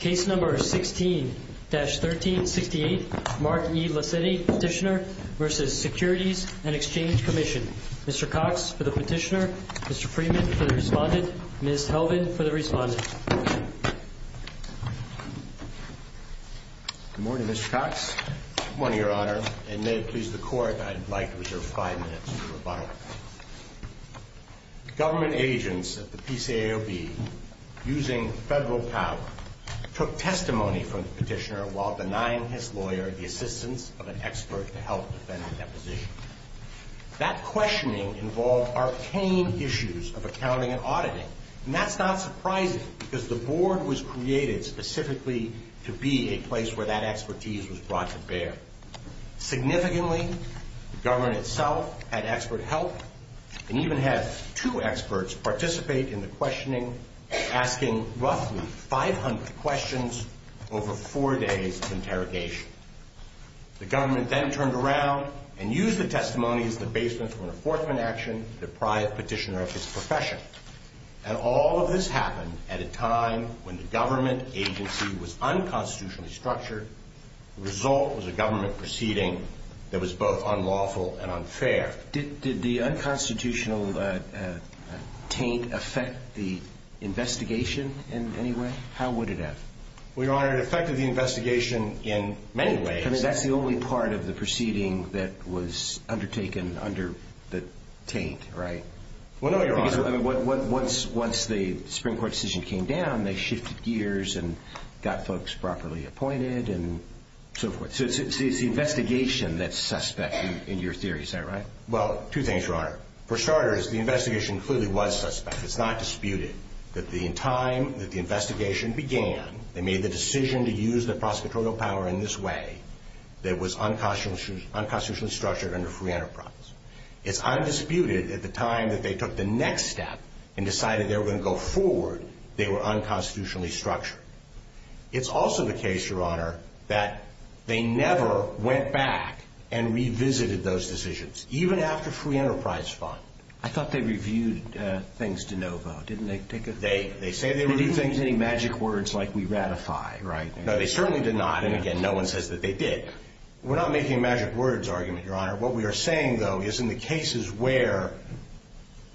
Case No. 16-1368 Mark E. Laccetti, Petitioner v. Securities and Exchange Commission Mr. Cox for the Petitioner, Mr. Freeman for the Respondent, Ms. Helvin for the Respondent Good morning, Mr. Cox Good morning, Your Honor, and may it please the Court, I'd like to reserve five minutes for rebuttal Government agents at the PCAOB, using Federal power, took testimony from the Petitioner while denying his lawyer the assistance of an expert to help defend the deposition That questioning involved arcane issues of accounting and auditing, and that's not surprising because the Board was created specifically to be a place where that expertise was brought to bear Significantly, the Government itself had expert help, and even had two experts participate in the questioning, asking roughly 500 questions over four days of interrogation The Government then turned around and used the testimony as the basement for an enforcement action to deprive Petitioner of his profession And all of this happened at a time when the Government agency was unconstitutionally structured, the result was a Government proceeding that was both unlawful and unfair Did the unconstitutional taint affect the investigation in any way? How would it have? Well, Your Honor, it affected the investigation in many ways I mean, that's the only part of the proceeding that was undertaken under the taint, right? Well, no, Your Honor Because once the Supreme Court decision came down, they shifted gears and got folks properly appointed and so forth So it's the investigation that's suspect in your theory, is that right? Well, two things, Your Honor For starters, the investigation clearly was suspect, it's not disputed That in the time that the investigation began, they made the decision to use their prosecutorial power in this way That was unconstitutionally structured under free enterprise It's undisputed that at the time that they took the next step and decided they were going to go forward, they were unconstitutionally structured It's also the case, Your Honor, that they never went back and revisited those decisions, even after free enterprise fought I thought they reviewed things de novo, didn't they? They say they reviewed things They didn't use any magic words like we ratify, right? No, they certainly did not, and again, no one says that they did We're not making a magic words argument, Your Honor What we are saying, though, is in the cases where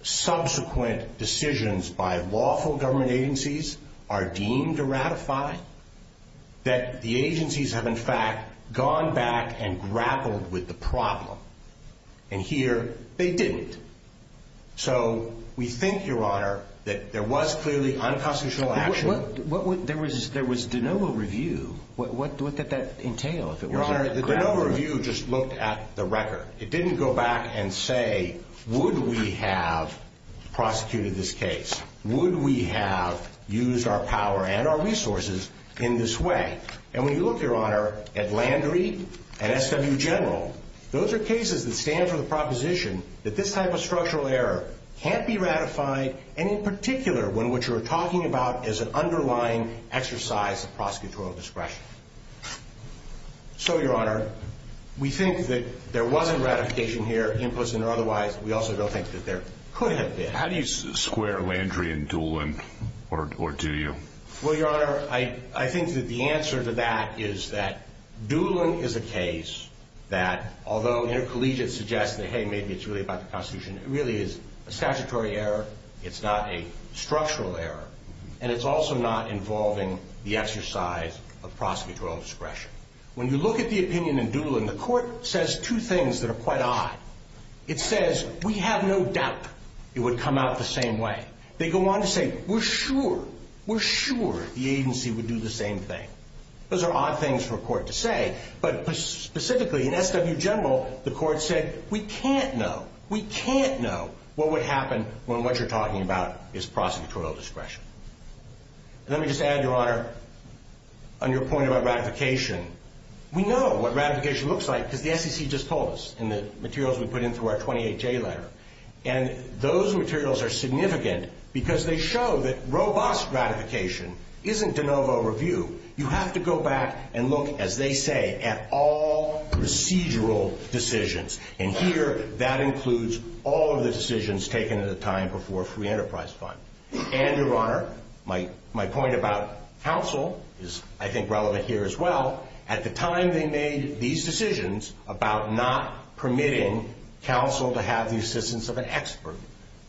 subsequent decisions by lawful government agencies are deemed to ratify That the agencies have, in fact, gone back and grappled with the problem And here, they didn't So we think, Your Honor, that there was clearly unconstitutional action There was de novo review. What did that entail? Your Honor, the de novo review just looked at the record It didn't go back and say, would we have prosecuted this case? Would we have used our power and our resources in this way? And when you look, Your Honor, at Landry and SW General Those are cases that stand for the proposition that this type of structural error can't be ratified And in particular, when what you're talking about is an underlying exercise of prosecutorial discretion So, Your Honor, we think that there wasn't ratification here, implicit or otherwise We also don't think that there could have been How do you square Landry and Doolin, or do you? Well, Your Honor, I think that the answer to that is that Doolin is a case that Although intercollegiate suggests that, hey, maybe it's really about the Constitution It really is a statutory error, it's not a structural error And it's also not involving the exercise of prosecutorial discretion When you look at the opinion in Doolin, the court says two things that are quite odd It says, we have no doubt it would come out the same way They go on to say, we're sure, we're sure the agency would do the same thing Those are odd things for a court to say But specifically in SW General, the court said, we can't know We can't know what would happen when what you're talking about is prosecutorial discretion Let me just add, Your Honor, on your point about ratification We know what ratification looks like because the SEC just told us In the materials we put in through our 28J letter And those materials are significant because they show that robust ratification isn't de novo review You have to go back and look, as they say, at all procedural decisions And here, that includes all of the decisions taken at a time before Free Enterprise Fund And, Your Honor, my point about counsel is, I think, relevant here as well At the time they made these decisions about not permitting counsel to have the assistance of an expert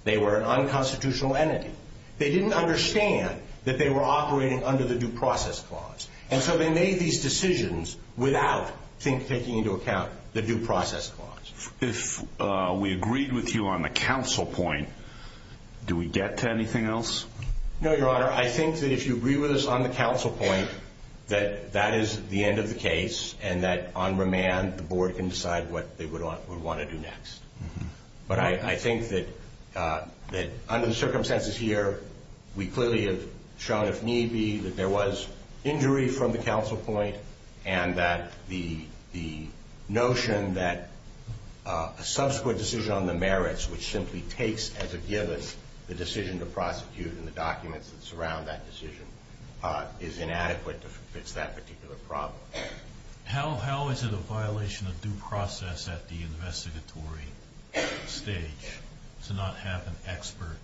They were an unconstitutional entity They didn't understand that they were operating under the Due Process Clause And so they made these decisions without taking into account the Due Process Clause If we agreed with you on the counsel point, do we get to anything else? No, Your Honor. I think that if you agree with us on the counsel point, that that is the end of the case And that on remand, the board can decide what they would want to do next But I think that under the circumstances here, we clearly have shown, if need be That there was injury from the counsel point And that the notion that a subsequent decision on the merits, which simply takes as a given The decision to prosecute and the documents that surround that decision Is inadequate to fix that particular problem How is it a violation of due process at the investigatory stage to not have an expert?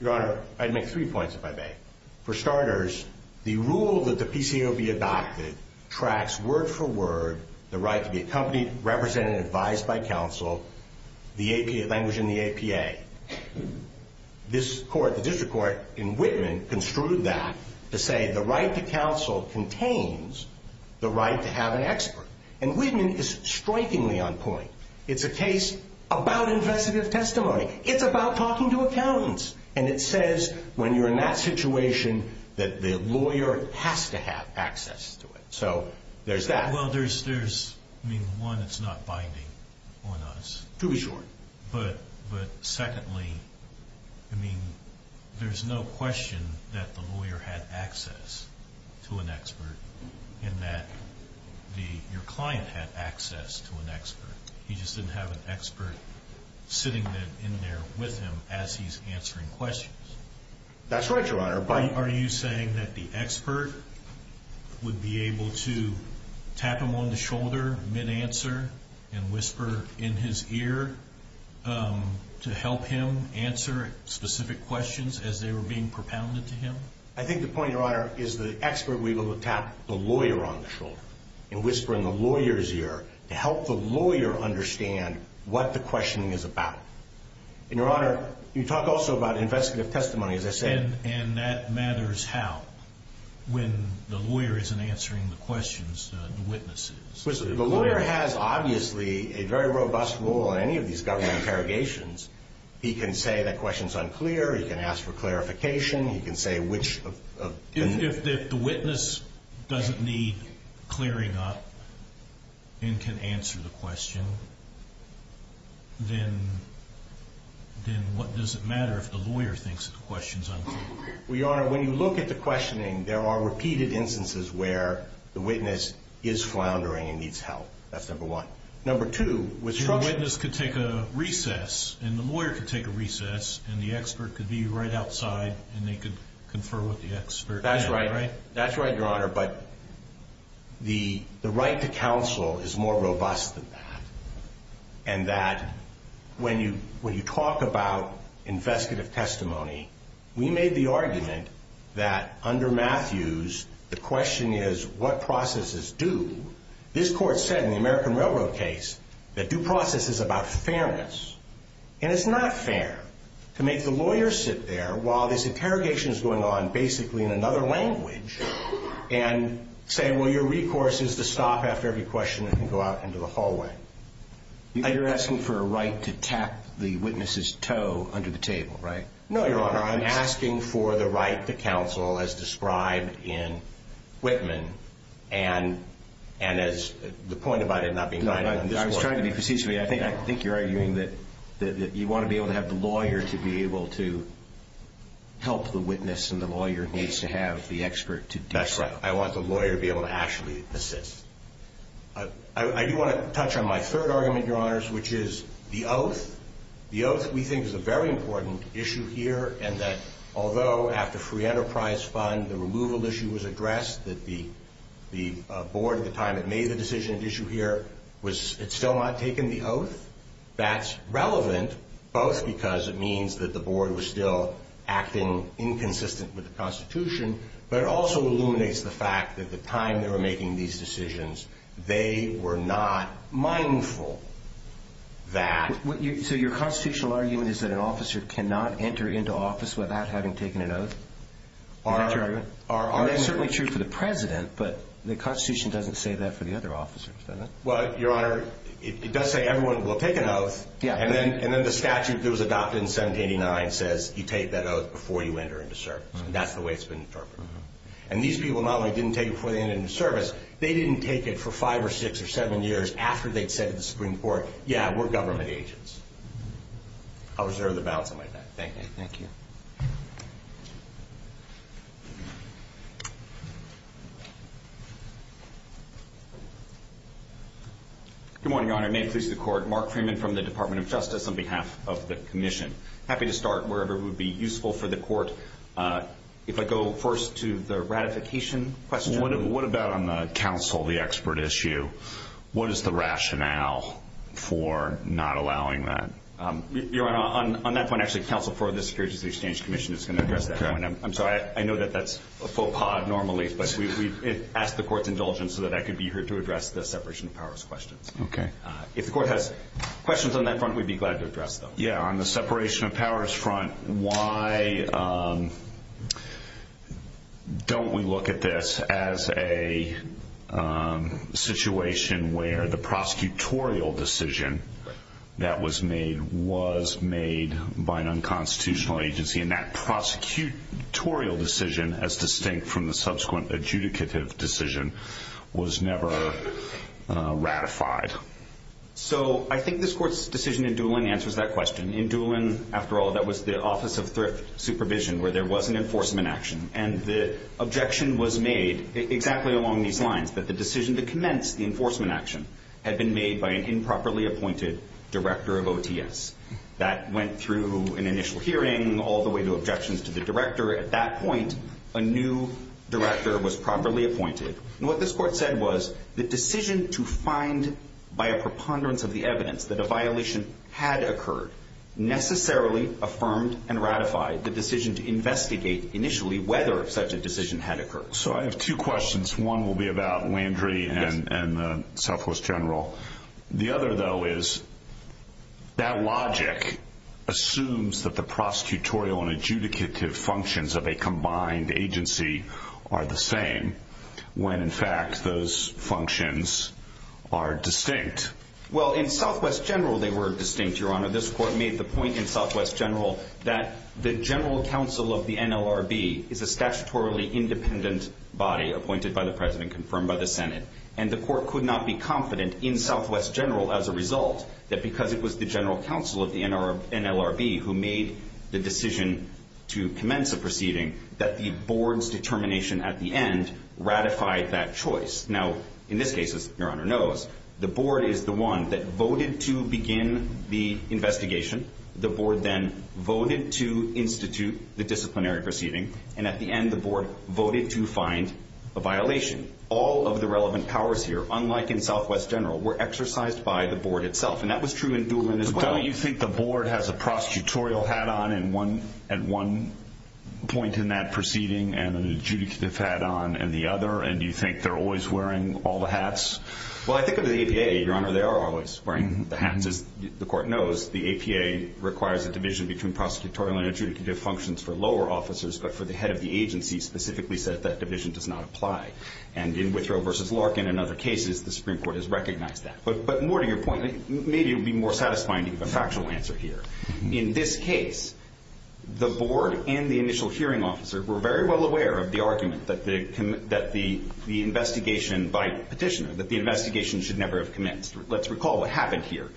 Your Honor, I'd make three points, if I may For starters, the rule that the PCOB adopted tracks word for word The right to be accompanied, represented, advised by counsel The language in the APA This court, the district court in Whitman, construed that To say the right to counsel contains the right to have an expert And Whitman is strikingly on point It's a case about investigative testimony It's about talking to accountants And it says, when you're in that situation, that the lawyer has to have access to it So, there's that Well, there's, I mean, one, it's not binding on us To be sure But secondly, I mean, there's no question that the lawyer had access to an expert And that your client had access to an expert He just didn't have an expert sitting in there with him as he's answering questions That's right, Your Honor, but Are you saying that the expert would be able to tap him on the shoulder mid-answer And whisper in his ear to help him answer specific questions as they were being propounded to him? I think the point, Your Honor, is the expert would be able to tap the lawyer on the shoulder And whisper in the lawyer's ear to help the lawyer understand what the questioning is about And, Your Honor, you talk also about investigative testimony, as I said And that matters how, when the lawyer isn't answering the questions, the witness is The lawyer has, obviously, a very robust role in any of these government interrogations He can say that question's unclear, he can ask for clarification, he can say which of If the witness doesn't need clearing up and can answer the question Then what does it matter if the lawyer thinks the question's unclear? Well, Your Honor, when you look at the questioning, there are repeated instances where the witness is floundering and needs help That's number one Number two, with structure So the witness could take a recess, and the lawyer could take a recess And the expert could be right outside and they could confer with the expert That's right, Your Honor, but the right to counsel is more robust than that And that when you talk about investigative testimony, we made the argument that under Matthews The question is what processes do This court said in the American Railroad case that due process is about fairness And it's not fair to make the lawyer sit there while this interrogation is going on basically in another language And say, well, your recourse is to stop after every question and go out into the hallway You're asking for a right to tap the witness's toe under the table, right? No, Your Honor, I'm asking for the right to counsel as described in Whitman And as the point about it not being done No, I was trying to be procedurally I think you're arguing that you want to be able to have the lawyer to be able to help the witness And the lawyer needs to have the expert to do so That's right, I want the lawyer to be able to actually assist I do want to touch on my third argument, Your Honors, which is the oath The oath that we think is a very important issue here And that although after free enterprise fund the removal issue was addressed That the board at the time that made the decision to issue here It's still not taken the oath That's relevant both because it means that the board was still acting inconsistent with the Constitution But it also illuminates the fact that the time they were making these decisions They were not mindful that So your constitutional argument is that an officer cannot enter into office without having taken an oath? Is that your argument? That's certainly true for the President But the Constitution doesn't say that for the other officers, does it? Well, Your Honor, it does say everyone will take an oath And then the statute that was adopted in 1789 says you take that oath before you enter into service And that's the way it's been interpreted And these people not only didn't take it before they entered into service They didn't take it for five or six or seven years after they'd said to the Supreme Court Yeah, we're government agents I'll reserve the balance of my time Thank you Good morning, Your Honor May it please the Court Mark Freeman from the Department of Justice on behalf of the Commission Happy to start wherever it would be useful for the Court If I go first to the ratification question What about on the counsel, the expert issue? What is the rationale for not allowing that? Your Honor, on that point, actually, counsel for the Securities and Exchange Commission is going to address that I'm sorry, I know that that's a faux pas normally But we've asked the Court's indulgence so that I could be here to address the separation of powers questions Okay If the Court has questions on that front, we'd be glad to address them Yeah, on the separation of powers front Why don't we look at this as a situation where the prosecutorial decision that was made was made by an unconstitutional agency and that prosecutorial decision, as distinct from the subsequent adjudicative decision, was never ratified? So, I think this Court's decision in Doolin answers that question In Doolin, after all, that was the Office of Thrift Supervision where there was an enforcement action and the objection was made exactly along these lines that the decision to commence the enforcement action had been made by an improperly appointed director of OTS That went through an initial hearing, all the way to objections to the director At that point, a new director was properly appointed What this Court said was, the decision to find, by a preponderance of the evidence, that a violation had occurred necessarily affirmed and ratified the decision to investigate, initially, whether such a decision had occurred So, I have two questions One will be about Landry and the Selfless General The other, though, is that logic assumes that the prosecutorial and adjudicative functions of a combined agency are the same when, in fact, those functions are distinct Well, in Southwest General, they were distinct, Your Honor This Court made the point in Southwest General that the General Counsel of the NLRB is a statutorily independent body, appointed by the President, confirmed by the Senate and the Court could not be confident, in Southwest General, as a result that because it was the General Counsel of the NLRB who made the decision to commence a proceeding that the Board's determination, at the end, ratified that choice Now, in this case, as Your Honor knows, the Board is the one that voted to begin the investigation The Board then voted to institute the disciplinary proceeding and, at the end, the Board voted to find a violation All of the relevant powers here, unlike in Southwest General, were exercised by the Board itself and that was true in Doolin as well Don't you think the Board has a prosecutorial hat on at one point in that proceeding and an adjudicative hat on in the other? And do you think they're always wearing all the hats? Well, I think under the APA, Your Honor, they are always wearing the hats As the Court knows, the APA requires a division between prosecutorial and adjudicative functions for lower officers, but for the head of the agency specifically said that division does not apply And in Withrow v. Larkin and other cases, the Supreme Court has recognized that But more to your point, maybe it would be more satisfying to give a factual answer here In this case, the Board and the initial hearing officer were very well aware of the argument that the investigation by Petitioner, that the investigation should never have commenced Let's recall what happened here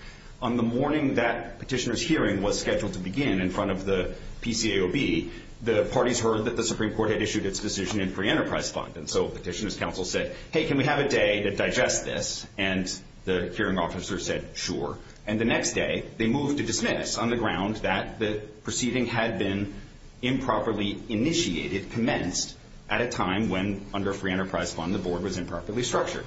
On the morning that Petitioner's hearing was scheduled to begin in front of the PCAOB the parties heard that the Supreme Court had issued its decision in free enterprise fund And so Petitioner's counsel said, hey, can we have a day to digest this? And the hearing officer said, sure And the next day, they moved to dismiss on the ground that the proceeding had been improperly initiated, commenced at a time when, under free enterprise fund, the Board was improperly structured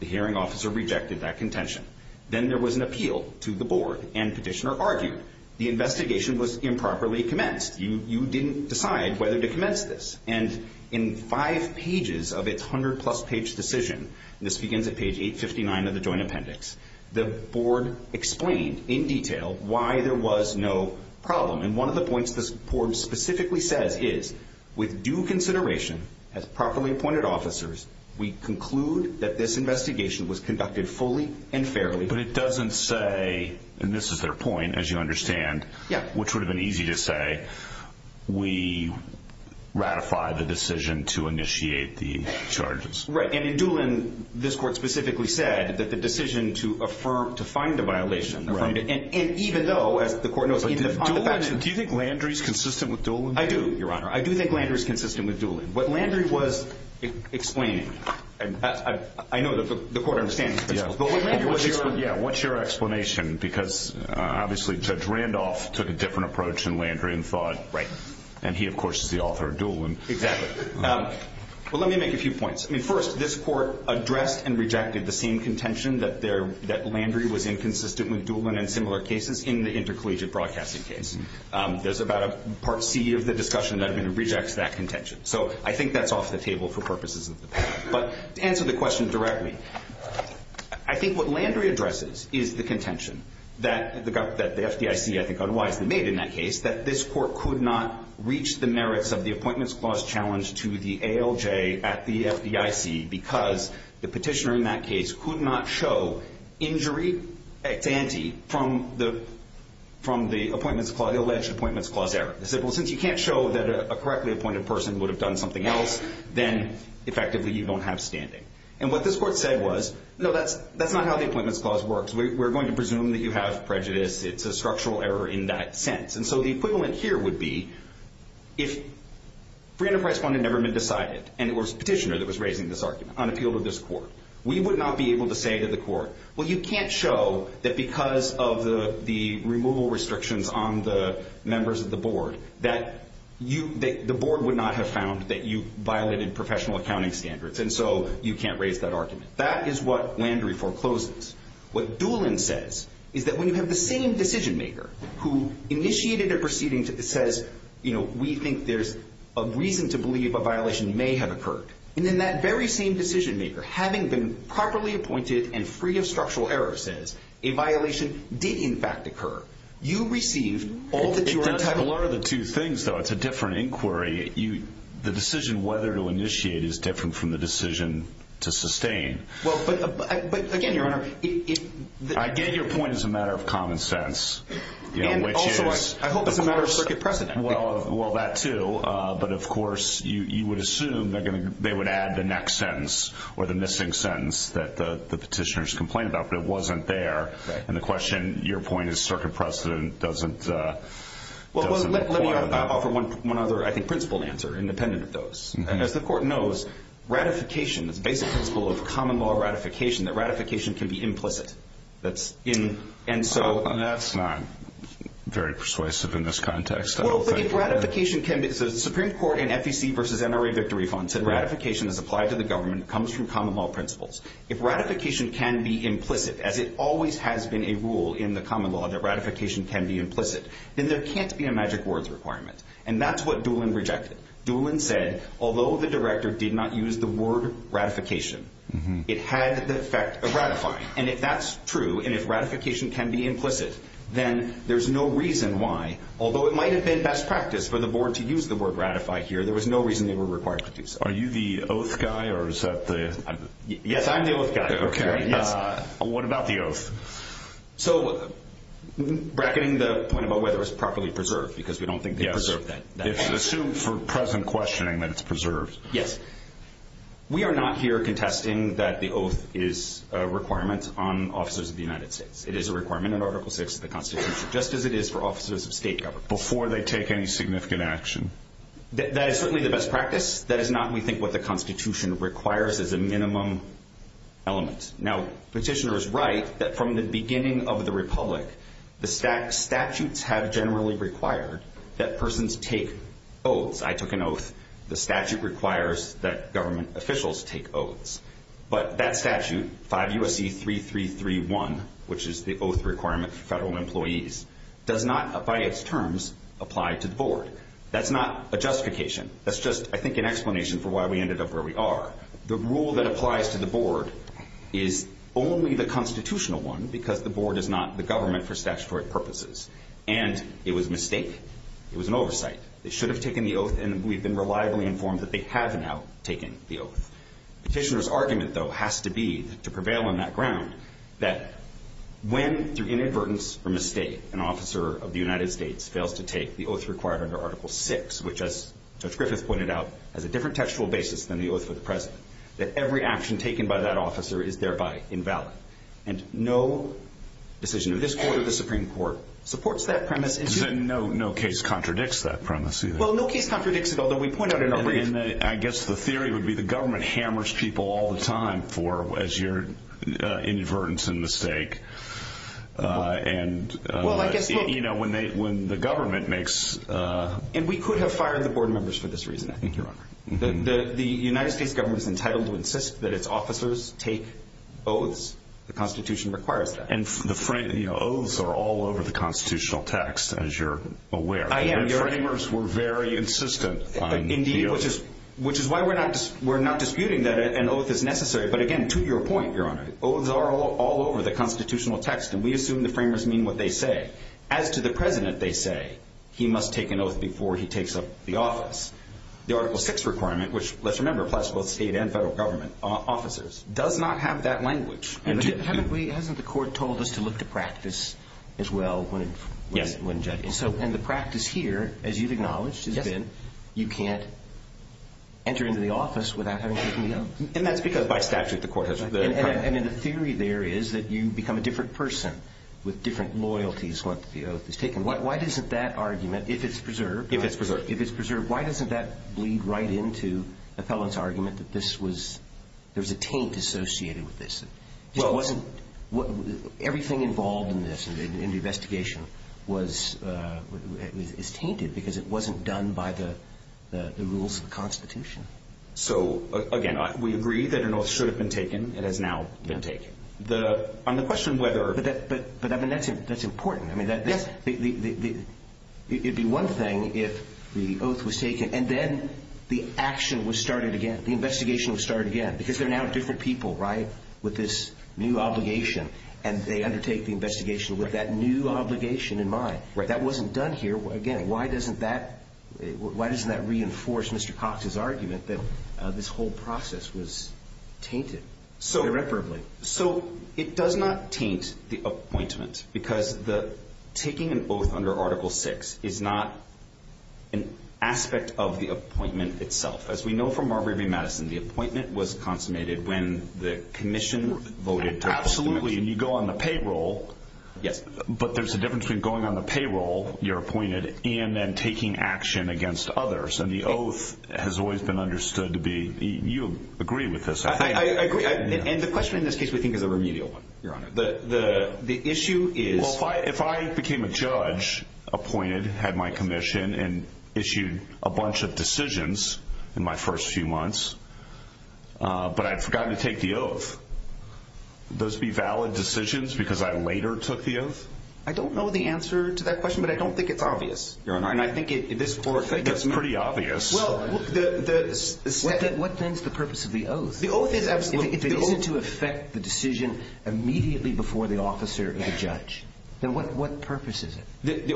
The hearing officer rejected that contention Then there was an appeal to the Board, and Petitioner argued The investigation was improperly commenced You didn't decide whether to commence this And in five pages of its hundred-plus-page decision This begins at page 859 of the Joint Appendix The Board explained in detail why there was no problem And one of the points the Board specifically says is With due consideration, as properly appointed officers, we conclude that this investigation was conducted fully and fairly But it doesn't say, and this is their point, as you understand Yeah Which would have been easy to say, we ratify the decision to initiate the charges Right, and in Doolin, this Court specifically said that the decision to find a violation Right And even though, as the Court knows Do you think Landry's consistent with Doolin? I do, Your Honor I do think Landry's consistent with Doolin What Landry was explaining, and I know the Court understands this What's your explanation? Because, obviously, Judge Randolph took a different approach than Landry and thought And he, of course, is the author of Doolin Exactly Well, let me make a few points First, this Court addressed and rejected the same contention That Landry was inconsistent with Doolin and similar cases in the intercollegiate broadcasting case There's about a Part C of the discussion that rejects that contention So I think that's off the table for purposes of the panel But to answer the question directly I think what Landry addresses is the contention That the FDIC, I think, unwisely made in that case That this Court could not reach the merits of the Appointments Clause challenge to the ALJ at the FDIC Because the petitioner in that case could not show injury ex ante from the alleged Appointments Clause error They said, well, since you can't show that a correctly appointed person would have done something else Then, effectively, you don't have standing And what this Court said was, no, that's not how the Appointments Clause works We're going to presume that you have prejudice It's a structural error in that sense And so the equivalent here would be If Free Enterprise Fund had never been decided And it was the petitioner that was raising this argument on appeal to this Court We would not be able to say to the Court Well, you can't show that because of the removal restrictions on the members of the Board That the Board would not have found that you violated professional accounting standards And so you can't raise that argument That is what Landry forecloses What Doolin says is that when you have the same decision maker Who initiated a proceeding that says We think there's a reason to believe a violation may have occurred And then that very same decision maker Having been properly appointed and free of structural error Says a violation did, in fact, occur It's a blur of the two things, though It's a different inquiry The decision whether to initiate is different from the decision to sustain But again, Your Honor I get your point as a matter of common sense And also, I hope, as a matter of circuit precedent Well, that too But, of course, you would assume they would add the next sentence Or the missing sentence that the petitioners complained about But it wasn't there And the question, your point, is circuit precedent doesn't apply Well, let me offer one other, I think, principled answer Independent of those As the Court knows Ratification, the basic principle of common law ratification That ratification can be implicit And so That's not very persuasive in this context Well, but if ratification can be The Supreme Court in FEC v. NRA Victory Fund Said ratification is applied to the government Comes from common law principles If ratification can be implicit As it always has been a rule in the common law That ratification can be implicit Then there can't be a magic words requirement And that's what Doolin rejected Doolin said Although the Director did not use the word ratification It had the effect of ratifying And if that's true And if ratification can be implicit Then there's no reason why Although it might have been best practice For the Board to use the word ratify here There was no reason they were required to do so Are you the oath guy or is that the... Yes, I'm the oath guy Okay, yes What about the oath? So Bracketing the point about whether it's properly preserved Because we don't think they preserve that It's assumed for present questioning that it's preserved Yes We are not here contesting That the oath is a requirement On officers of the United States It is a requirement in Article VI of the Constitution Just as it is for officers of state government Before they take any significant action That is certainly the best practice That is not, we think, what the Constitution requires Is a minimum element Now, petitioners write That from the beginning of the Republic The statutes have generally required That persons take oaths I took an oath The statute requires that government officials take oaths But that statute, 5 U.S.C. 3331 Which is the oath requirement for federal employees Does not, by its terms, apply to the Board That's not a justification That's just, I think, an explanation For why we ended up where we are The rule that applies to the Board Is only the constitutional one Because the Board is not the government For statutory purposes And it was a mistake It was an oversight They should have taken the oath And we've been reliably informed That they have now taken the oath Petitioner's argument, though, has to be To prevail on that ground That when, through inadvertence or mistake An officer of the United States fails to take The oath required under Article VI Which, as Judge Griffith pointed out Has a different textual basis Than the oath of the President That every action taken by that officer Is thereby invalid And no decision of this Court or the Supreme Court Supports that premise Then no case contradicts that premise, either Well, no case contradicts it Although we point out in our brief I guess the theory would be The government hammers people all the time As your inadvertence and mistake And, you know, when the government makes And we could have fired the Board members For this reason, I think, Your Honor The United States government is entitled To insist that its officers take oaths The Constitution requires that And the oaths are all over the Constitutional text As you're aware I am, Your Honor The framers were very insistent on the oath Indeed, which is why we're not disputing That an oath is necessary But, again, to your point, Your Honor Oaths are all over the Constitutional text And we assume the framers mean what they say As to the President, they say He must take an oath Before he takes up the office The Article 6 requirement Which, let's remember, applies To both state and federal government officers Does not have that language But hasn't the Court told us To look to practice as well When judging? And the practice here, as you've acknowledged Has been you can't enter into the office Without having taken the oath And that's because, by statute, the Court has And the theory there is That you become a different person With different loyalties Once the oath is taken Why doesn't that argument If it's preserved If it's preserved If it's preserved, why doesn't that Lead right into the felon's argument That this was There was a taint associated with this It wasn't Everything involved in this In the investigation was Is tainted because it wasn't done By the rules of the Constitution So, again, we agree that an oath Should have been taken It has now been taken On the question whether But that's important It would be one thing If the oath was taken And then the action was started again The investigation was started again Because they're now different people, right With this new obligation And they undertake the investigation With that new obligation in mind That wasn't done here Again, why doesn't that Why doesn't that reinforce Mr. Cox's argument That this whole process was tainted Irreparably So, it does not taint the appointment Because taking an oath under Article 6 Is not an aspect of the appointment itself As we know from Marbury v. Madison The appointment was consummated When the commission voted to Absolutely, and you go on the payroll Yes But there's a difference Between going on the payroll You're appointed And then taking action against others And the oath has always been understood to be I agree And the question in this case We think is a remedial one, Your Honor The issue is Well, if I became a judge Appointed, had my commission And issued a bunch of decisions In my first few months But I'd forgotten to take the oath Those be valid decisions Because I later took the oath? I don't know the answer to that question But I don't think it's obvious Your Honor I think it's pretty obvious What then is the purpose of the oath? The oath is absolutely If it isn't to affect the decision Immediately before the officer or the judge Then what purpose is it?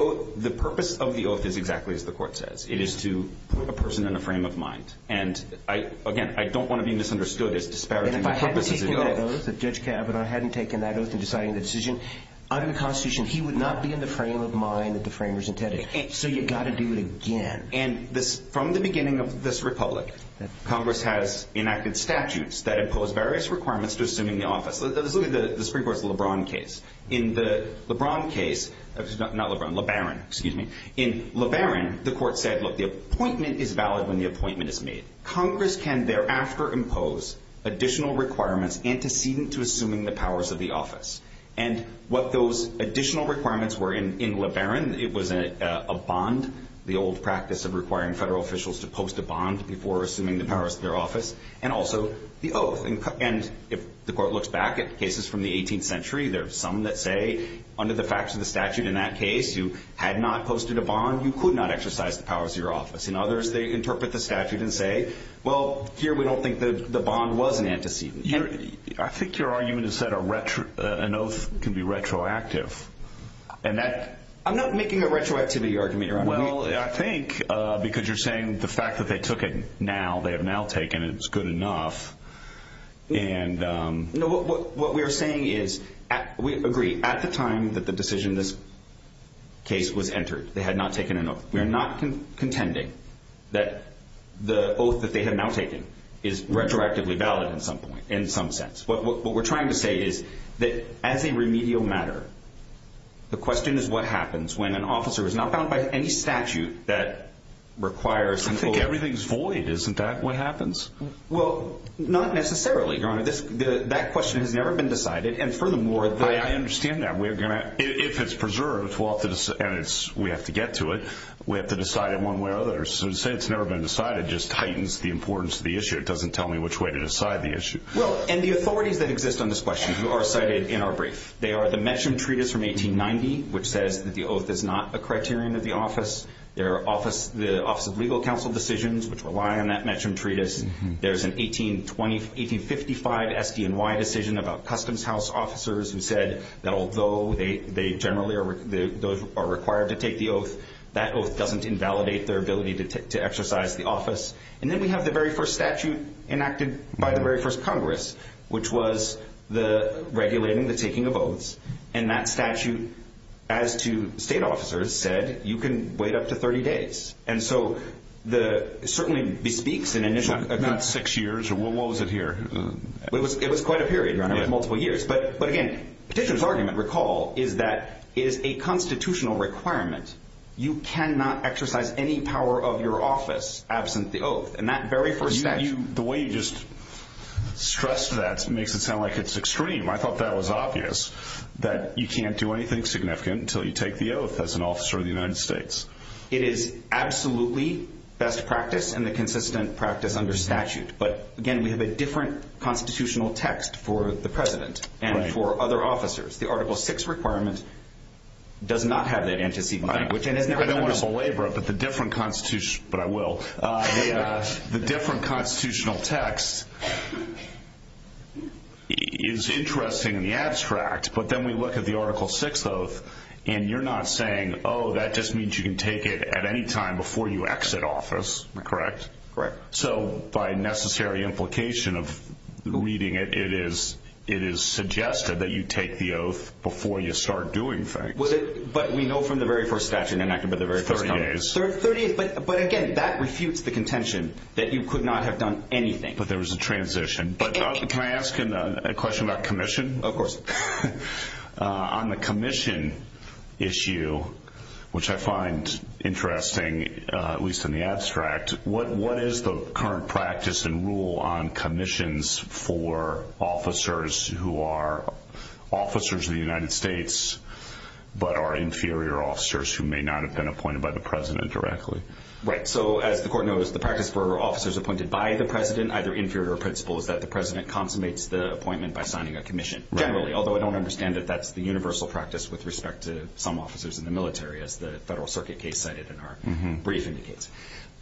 The purpose of the oath Is exactly as the court says It is to put a person in a frame of mind And again, I don't want to be misunderstood As disparaging the purpose of the oath And if I hadn't taken that oath If Judge Kavanaugh hadn't taken that oath And decided the decision Under the Constitution He would not be in the frame of mind That the framers intended So you've got to do it again And from the beginning of this republic Congress has enacted statutes That impose various requirements To assuming the office Let's look at the Supreme Court's LeBron case In the LeBron case Not LeBron, LeBaron, excuse me In LeBaron, the court said Look, the appointment is valid When the appointment is made Congress can thereafter impose Additional requirements Antecedent to assuming the powers of the office And what those additional requirements were In LeBaron It was a bond The old practice of requiring federal officials To post a bond Before assuming the powers of their office And also the oath And if the court looks back At cases from the 18th century There are some that say Under the facts of the statute in that case You had not posted a bond You could not exercise the powers of your office And others, they interpret the statute and say Well, here we don't think the bond was an antecedent I think your argument is that An oath can be retroactive And that I'm not making a retroactivity argument Well, I think Because you're saying The fact that they took it now They have now taken it Which is good enough And No, what we're saying is We agree At the time that the decision This case was entered They had not taken an oath We're not contending That the oath that they have now taken Is retroactively valid at some point In some sense What we're trying to say is That as a remedial matter The question is what happens When an officer is not bound by any statute That requires I think everything's void Isn't that what happens? Well, not necessarily, your honor That question has never been decided And furthermore I understand that If it's preserved And we have to get to it We have to decide it one way or another So to say it's never been decided Just heightens the importance of the issue It doesn't tell me which way to decide the issue Well, and the authorities that exist on this question Who are cited in our brief They are the Metcham Treatise from 1890 Which says that the oath is not a criterion of the office The Office of Legal Counsel decisions Which rely on that Metcham Treatise There's an 1855 SDNY decision About Customs House officers Who said that although They generally are required to take the oath That oath doesn't invalidate their ability To exercise the office And then we have the very first statute Enacted by the very first Congress Which was regulating the taking of oaths And that statute As to state officers said You can wait up to 30 days And so it certainly bespeaks Not six years, what was it here? It was quite a period, multiple years But again, Petitioner's argument, recall Is that it is a constitutional requirement You cannot exercise any power of your office Absent the oath And that very first statute The way you just stressed that Makes it sound like it's extreme I thought that was obvious That you can't do anything significant Until you take the oath As an officer of the United States It is absolutely best practice And the consistent practice under statute But again, we have a different Constitutional text for the President And for other officers The Article 6 requirement Does not have that antecedent I don't want to belabor it But the different Constitution But I will The different Constitutional text Is interesting in the abstract But then we look at the Article 6 oath And you're not saying Oh, that just means you can take it At any time before you exit office Correct? Correct So by necessary implication of reading it It is suggested that you take the oath Before you start doing things But we know from the very first statute And the very first comment 30 days But again, that refutes the contention That you could not have done anything But there was a transition Can I ask a question about commission? Of course On the commission issue Which I find interesting At least in the abstract What is the current practice And rule on commissions For officers who are Officers of the United States But are inferior officers Who may not have been Appointed by the President directly Right, so as the Court knows The practice for officers Appointed by the President Either inferior or principal Is that the President Consummates the appointment By signing a commission Generally, although I don't understand That that's the universal practice With respect to some officers In the military As the Federal Circuit case cited In our brief indicates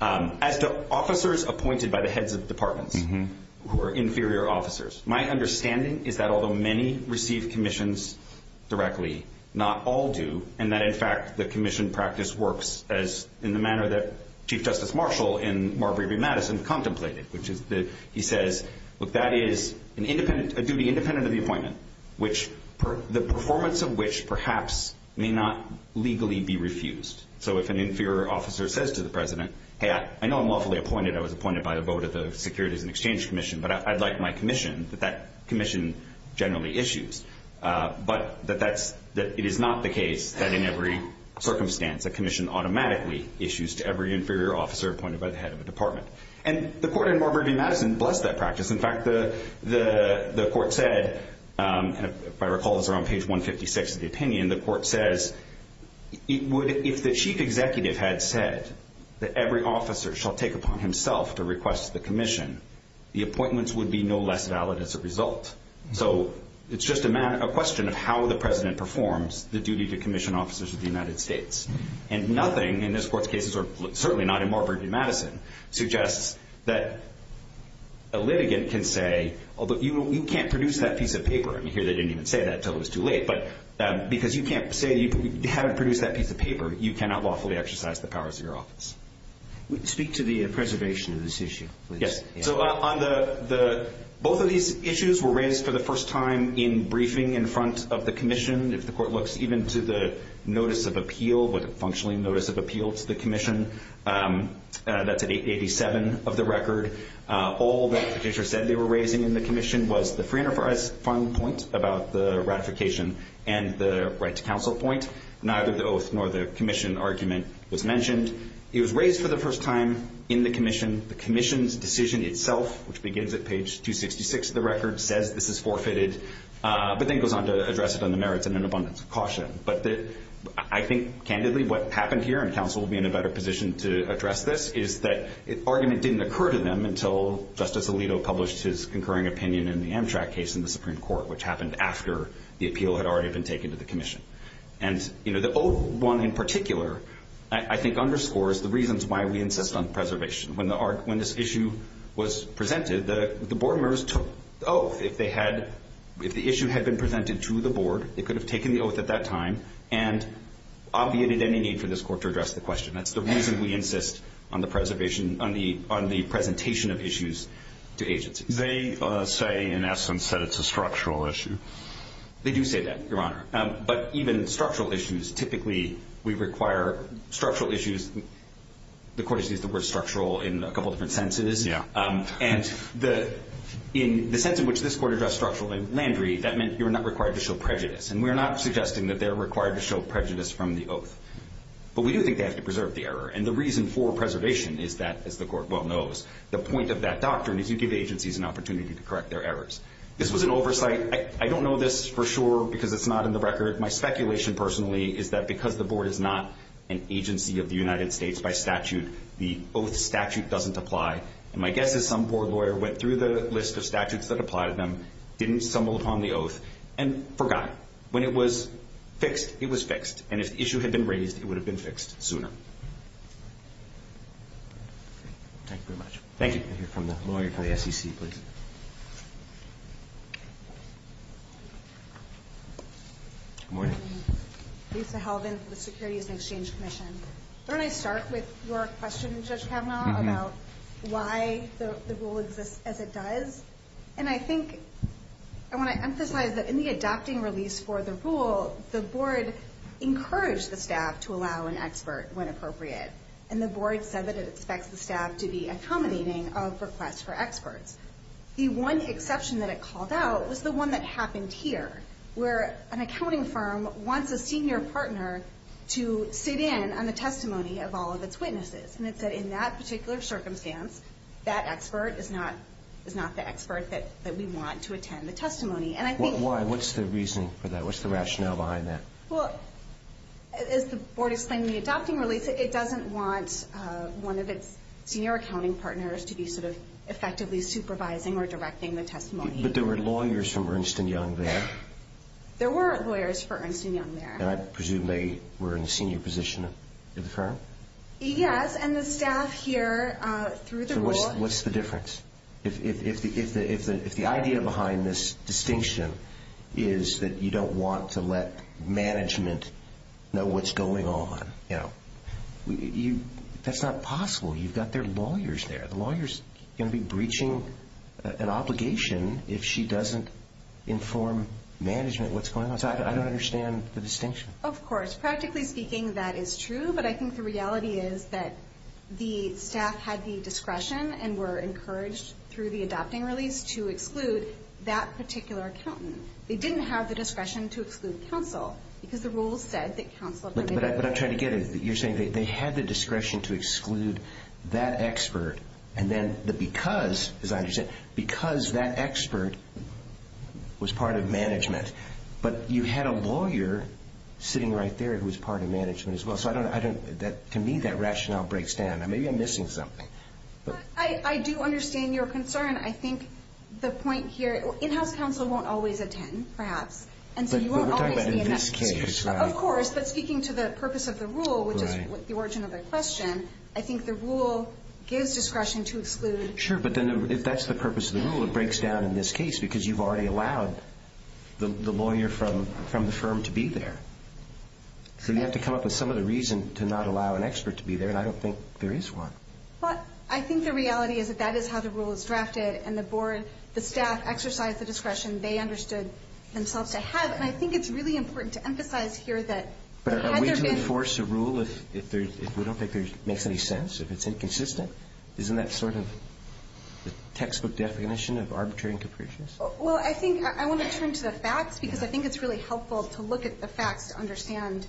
As to officers appointed By the heads of departments Who are inferior officers My understanding is that Although many receive commissions Directly, not all do And that in fact The commission practice works As in the manner that Chief Justice Marshall In Marbury v. Madison contemplated Which is that he says Look, that is a duty Independent of the appointment Which, the performance of which Perhaps may not legally be refused So if an inferior officer Says to the President Hey, I know I'm lawfully appointed I was appointed by the vote Of the Securities and Exchange Commission But I'd like my commission That that commission generally issues But that it is not the case That in every circumstance A commission automatically issues To every inferior officer Appointed by the head of a department And the Court in Marbury v. Madison Bless that practice In fact, the Court said If I recall this Around page 156 of the opinion The Court says If the Chief Executive had said That every officer Shall take upon himself To request the commission The appointments would be No less valid as a result So it's just a question Of how the President performs The duty to commission officers Of the United States And nothing in this Court's cases Or certainly not in Marbury v. Madison Suggests that a litigant Can say, although you can't Produce that piece of paper And here they didn't even say that Until it was too late But because you can't say You haven't produced that piece of paper You cannot lawfully exercise The powers of your office Speak to the preservation Of this issue, please Yes, so on the Both of these issues were raised For the first time in briefing In front of the commission If the Court looks Even to the notice of appeal The functioning notice of appeal To the commission That's at 887 of the record All that the petitioner Said they were raising In the commission Was the free enterprise Final point about the ratification And the right to counsel point Neither the oath Nor the commission argument Was mentioned It was raised for the first time In the commission The commission's decision itself Which begins at page 266 of the record Says this is forfeited But then goes on to address it On the merits and an abundance of caution But I think candidly What happened here And counsel will be in a better position To address this Is that argument didn't occur to them Until Justice Alito published His concurring opinion In the Amtrak case in the Supreme Court Which happened after the appeal Had already been taken to the commission And the oath one in particular I think underscores the reasons Why we insist on preservation When this issue was presented The board members took the oath If the issue had been presented to the board They could have taken the oath at that time And obviated any need for this court To address the question That's the reason we insist On the presentation of issues to agencies They say in essence That it's a structural issue They do say that, your honor But even structural issues Typically we require structural issues The court has used the word structural In a couple different senses And in the sense in which This court addressed structural landry That meant you're not required to show prejudice And we're not suggesting That they're required to show prejudice From the oath But we do think they have to preserve the error And the reason for preservation Is that, as the court well knows The point of that doctrine Is you give agencies an opportunity To correct their errors This was an oversight I don't know this for sure Because it's not in the record My speculation personally Is that because the board is not An agency of the United States by statute The oath statute doesn't apply And my guess is some board lawyer Went through the list of statutes That apply to them Didn't stumble upon the oath And forgot When it was fixed, it was fixed And if the issue had been raised It would have been fixed sooner Thank you very much Thank you We'll hear from the lawyer From the SEC please Good morning Lisa Halvan For the Securities and Exchange Commission Why don't I start with your question Judge Kavanaugh About why the rule exists as it does And I think I want to emphasize that In the adopting release for the rule The board encouraged the staff To allow an expert When appropriate And the board said that It expects the staff To be accommodating Of requests for experts The one exception that it called out Was the one that happened here Where an accounting firm Wants a senior partner To sit in on the testimony Of all of its witnesses And it said In that particular circumstance That expert is not The expert that we want To attend the testimony And I think Why? What's the reason for that? What's the rationale behind that? Well As the board explained In the adopting release It doesn't want One of its senior accounting partners To be sort of Effectively supervising Or directing the testimony But there were lawyers From Ernst & Young there There were lawyers From Ernst & Young there And I presume They were in the senior position Of the firm? Yes And the staff here Through the rule So what's the difference? If the idea behind this distinction Is that you don't want To let management Know what's going on You know That's not possible You've got their lawyers there The lawyer's going to be Breaching an obligation If she doesn't inform management What's going on So I don't understand The distinction Of course Practically speaking That is true But I think the reality is That the staff Had the discretion And were encouraged Through the adopting release To exclude that particular accountant They didn't have the discretion To exclude counsel Because the rules said That counsel But I'm trying to get it You're saying They had the discretion To exclude that expert And then the because As I understand Because that expert Was part of management But you had a lawyer Sitting right there Who was part of management As well So I don't To me that rationale Breaks down Maybe I'm missing something But I do understand Your concern I think the point here In-house counsel Won't always attend Perhaps But we're talking about In this case Of course But speaking to the purpose Of the rule Which is the origin Of the question I think the rule Gives discretion to exclude Sure but then If that's the purpose Of the rule It breaks down in this case Because you've already Allowed the lawyer From the firm To be there So you have to come up With some of the reason To not allow an expert To be there And I don't think There is one But I think the reality Is that that is how The rule is drafted And the board The staff Exercise the discretion They understood Themselves to have And I think it's really Important to emphasize Here that Are we to enforce A rule If we don't think It makes any sense If it's inconsistent Isn't that sort of The textbook definition Of arbitrary and capricious Well I think I want to turn to the facts Because I think it's Really helpful To look at the facts To understand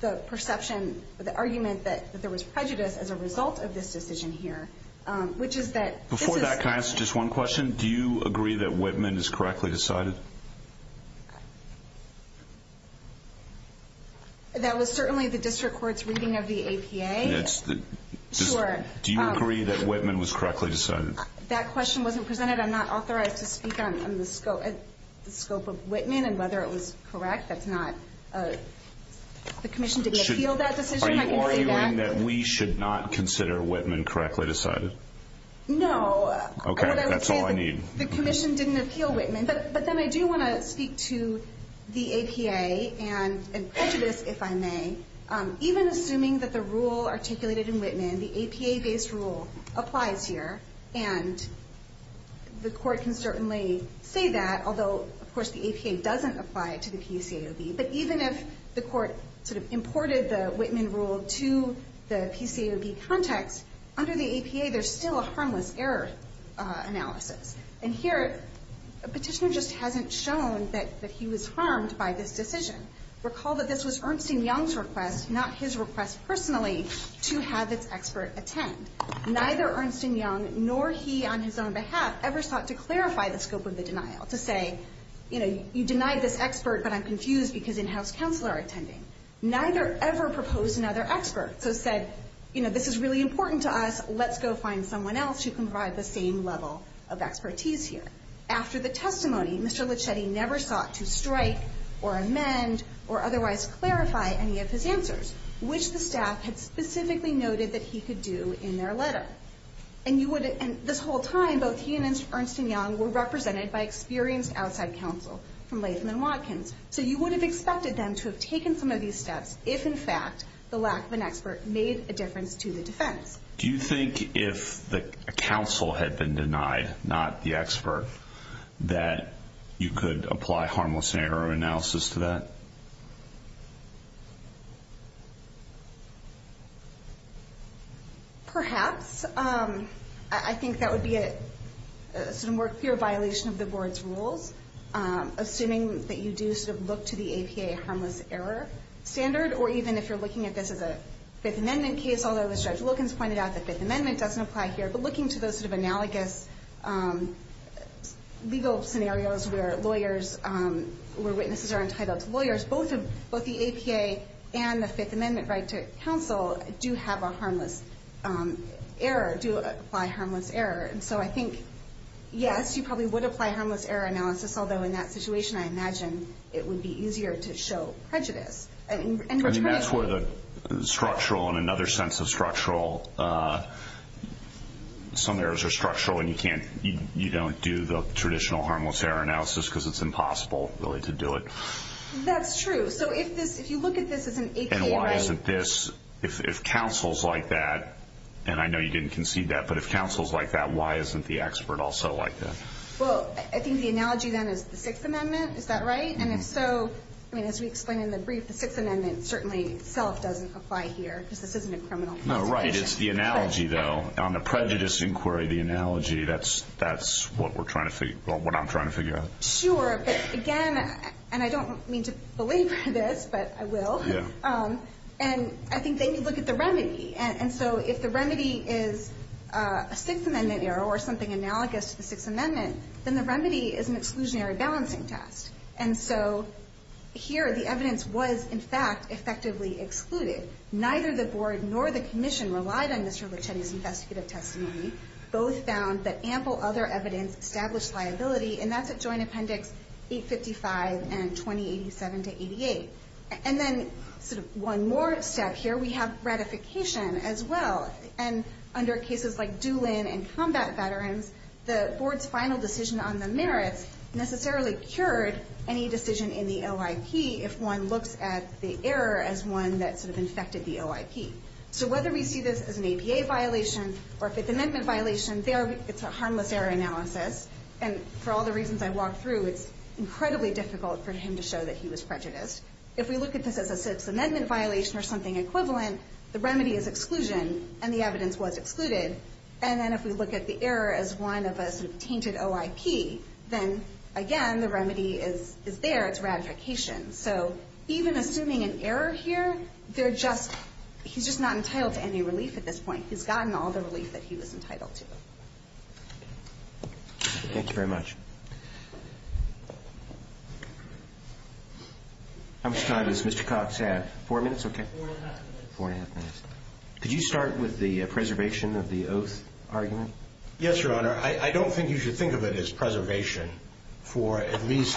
The perception The argument That there was prejudice As a result of this decision Here Which is that Before that Can I ask just one question Do you agree That Whitman Is correctly decided That was certainly The district court's Reading of the APA It's the Sure Do you agree That Whitman Was correctly decided That question Wasn't presented I'm not authorized To speak on The scope Of Whitman And whether it was Correct That's not The commission Did appeal that decision I can say that Are you arguing That we should not Consider Whitman Correctly decided No Okay That's all I need The commission Didn't appeal Whitman But then I do want to Speak to The APA And prejudice If I may Even assuming That the rule Articulated in Whitman The APA based rule Applies here And The court Can certainly Say that Although Of course the APA Doesn't apply To the PCAOB But even if The court Sort of imported The Whitman rule To the PCAOB context Under the APA There's still A harmless error Analysis And here A petitioner Just hasn't shown That he was harmed By this decision Recall that this was Ernst and Young's request Not his request Personally To have Its expert Attend Neither Ernst and Young Nor he on his own Behalf Ever sought to clarify The scope of the denial To say You know You denied this expert But I'm confused Because in-house Counselors are attending Neither ever proposed Another expert So said You know This is really important To us Let's go find Someone else Who can provide The same level Of expertise here After the testimony Mr. Lichetti Never sought To strike Or amend Or otherwise Clarify any of his answers Which the staff Had specifically noted That he could do In their letter And you would And this whole time Both he and Ernst and Young Were represented By experienced Outside counsel From Latham and Watkins So you would have Expected them To have taken Some of these steps If in fact The lack of an expert Made a difference To the defense Do you think If the counsel Had been denied Not the expert That you could Apply harmless Error analysis To that Perhaps I think That would be A sort of More clear Violation of the Board's rules Assuming That you do Sort of look To the APA Harmless error Standard Or even If you're Looking at this As a Fifth degree Error In the Fifth Amendment Case Although as Judge Wilkins pointed out The Fifth Amendment Doesn't apply here But looking to Those sort of Analogous Legal scenarios Where lawyers Where witnesses Are entitled to Lawyers Both the APA And the Fifth Amendment Right to counsel Do have a Harmless Error Do apply Harmless error And so I think Yes you probably Would apply Harmless error Analysis To this Although in That situation I imagine It would be Easier to show Prejudice And I think that's Where the Structural And another Sense of Structural Some errors Are structural And you Can't You don't Do the Traditional Harmless error Analysis Because it's Impossible Really to do It That's true So if You look At this As an APA And why isn't This If counsel Is like That And I Know you Didn't Concede that But if Counsel Is like That why Isn't the Expert Also like That Well I Think the Analogy Then is the Sixth Amendment Is that Right So Here the Evidence was In fact Effectively Excluded Neither the Board Nor the Commission Relied on Mr. Lucchetti's Investigative Testimony Both Found That Ample Other Evidence Established Liability And that's At Joint Appendix 855 And 2087-88 And Then One more Step here We have Ratification As well And Under cases Like dueling And combat Veterans The Board's Final decision On the Merits Necessarily Cured Any Decision In the OIP If one Looks at The error As one That sort Of Tainted OIP Then Again The remedy Is there It's Ratification So Even Assuming an Error Here They're Just He's Just Not Entitled To Any Relief At This Point He's Gotten All The Relief That He Was Entitled To Thank you Very Much How Much Time Does Mr. Cox Have Four Minutes Okay Four And A Half Minutes Could You Start With The First Much Thank You Very Much Thank You Very Much Thank You Very Much Thank You Very Much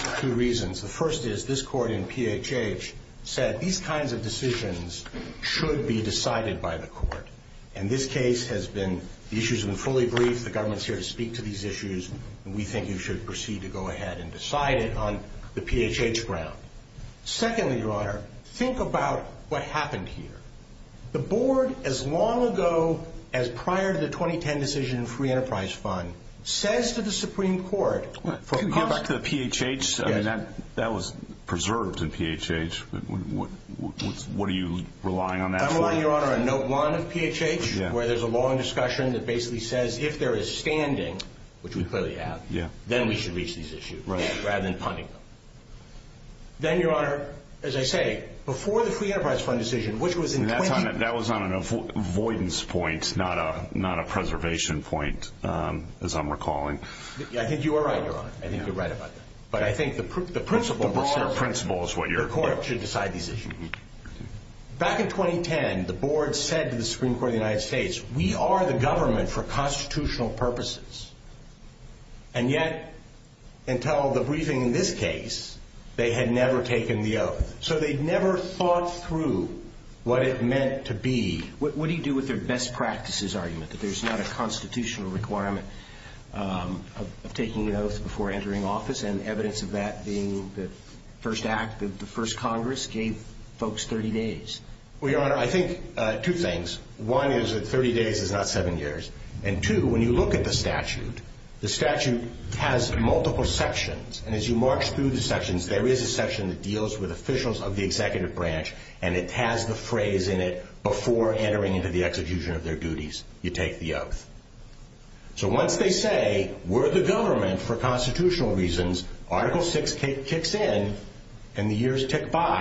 Thank You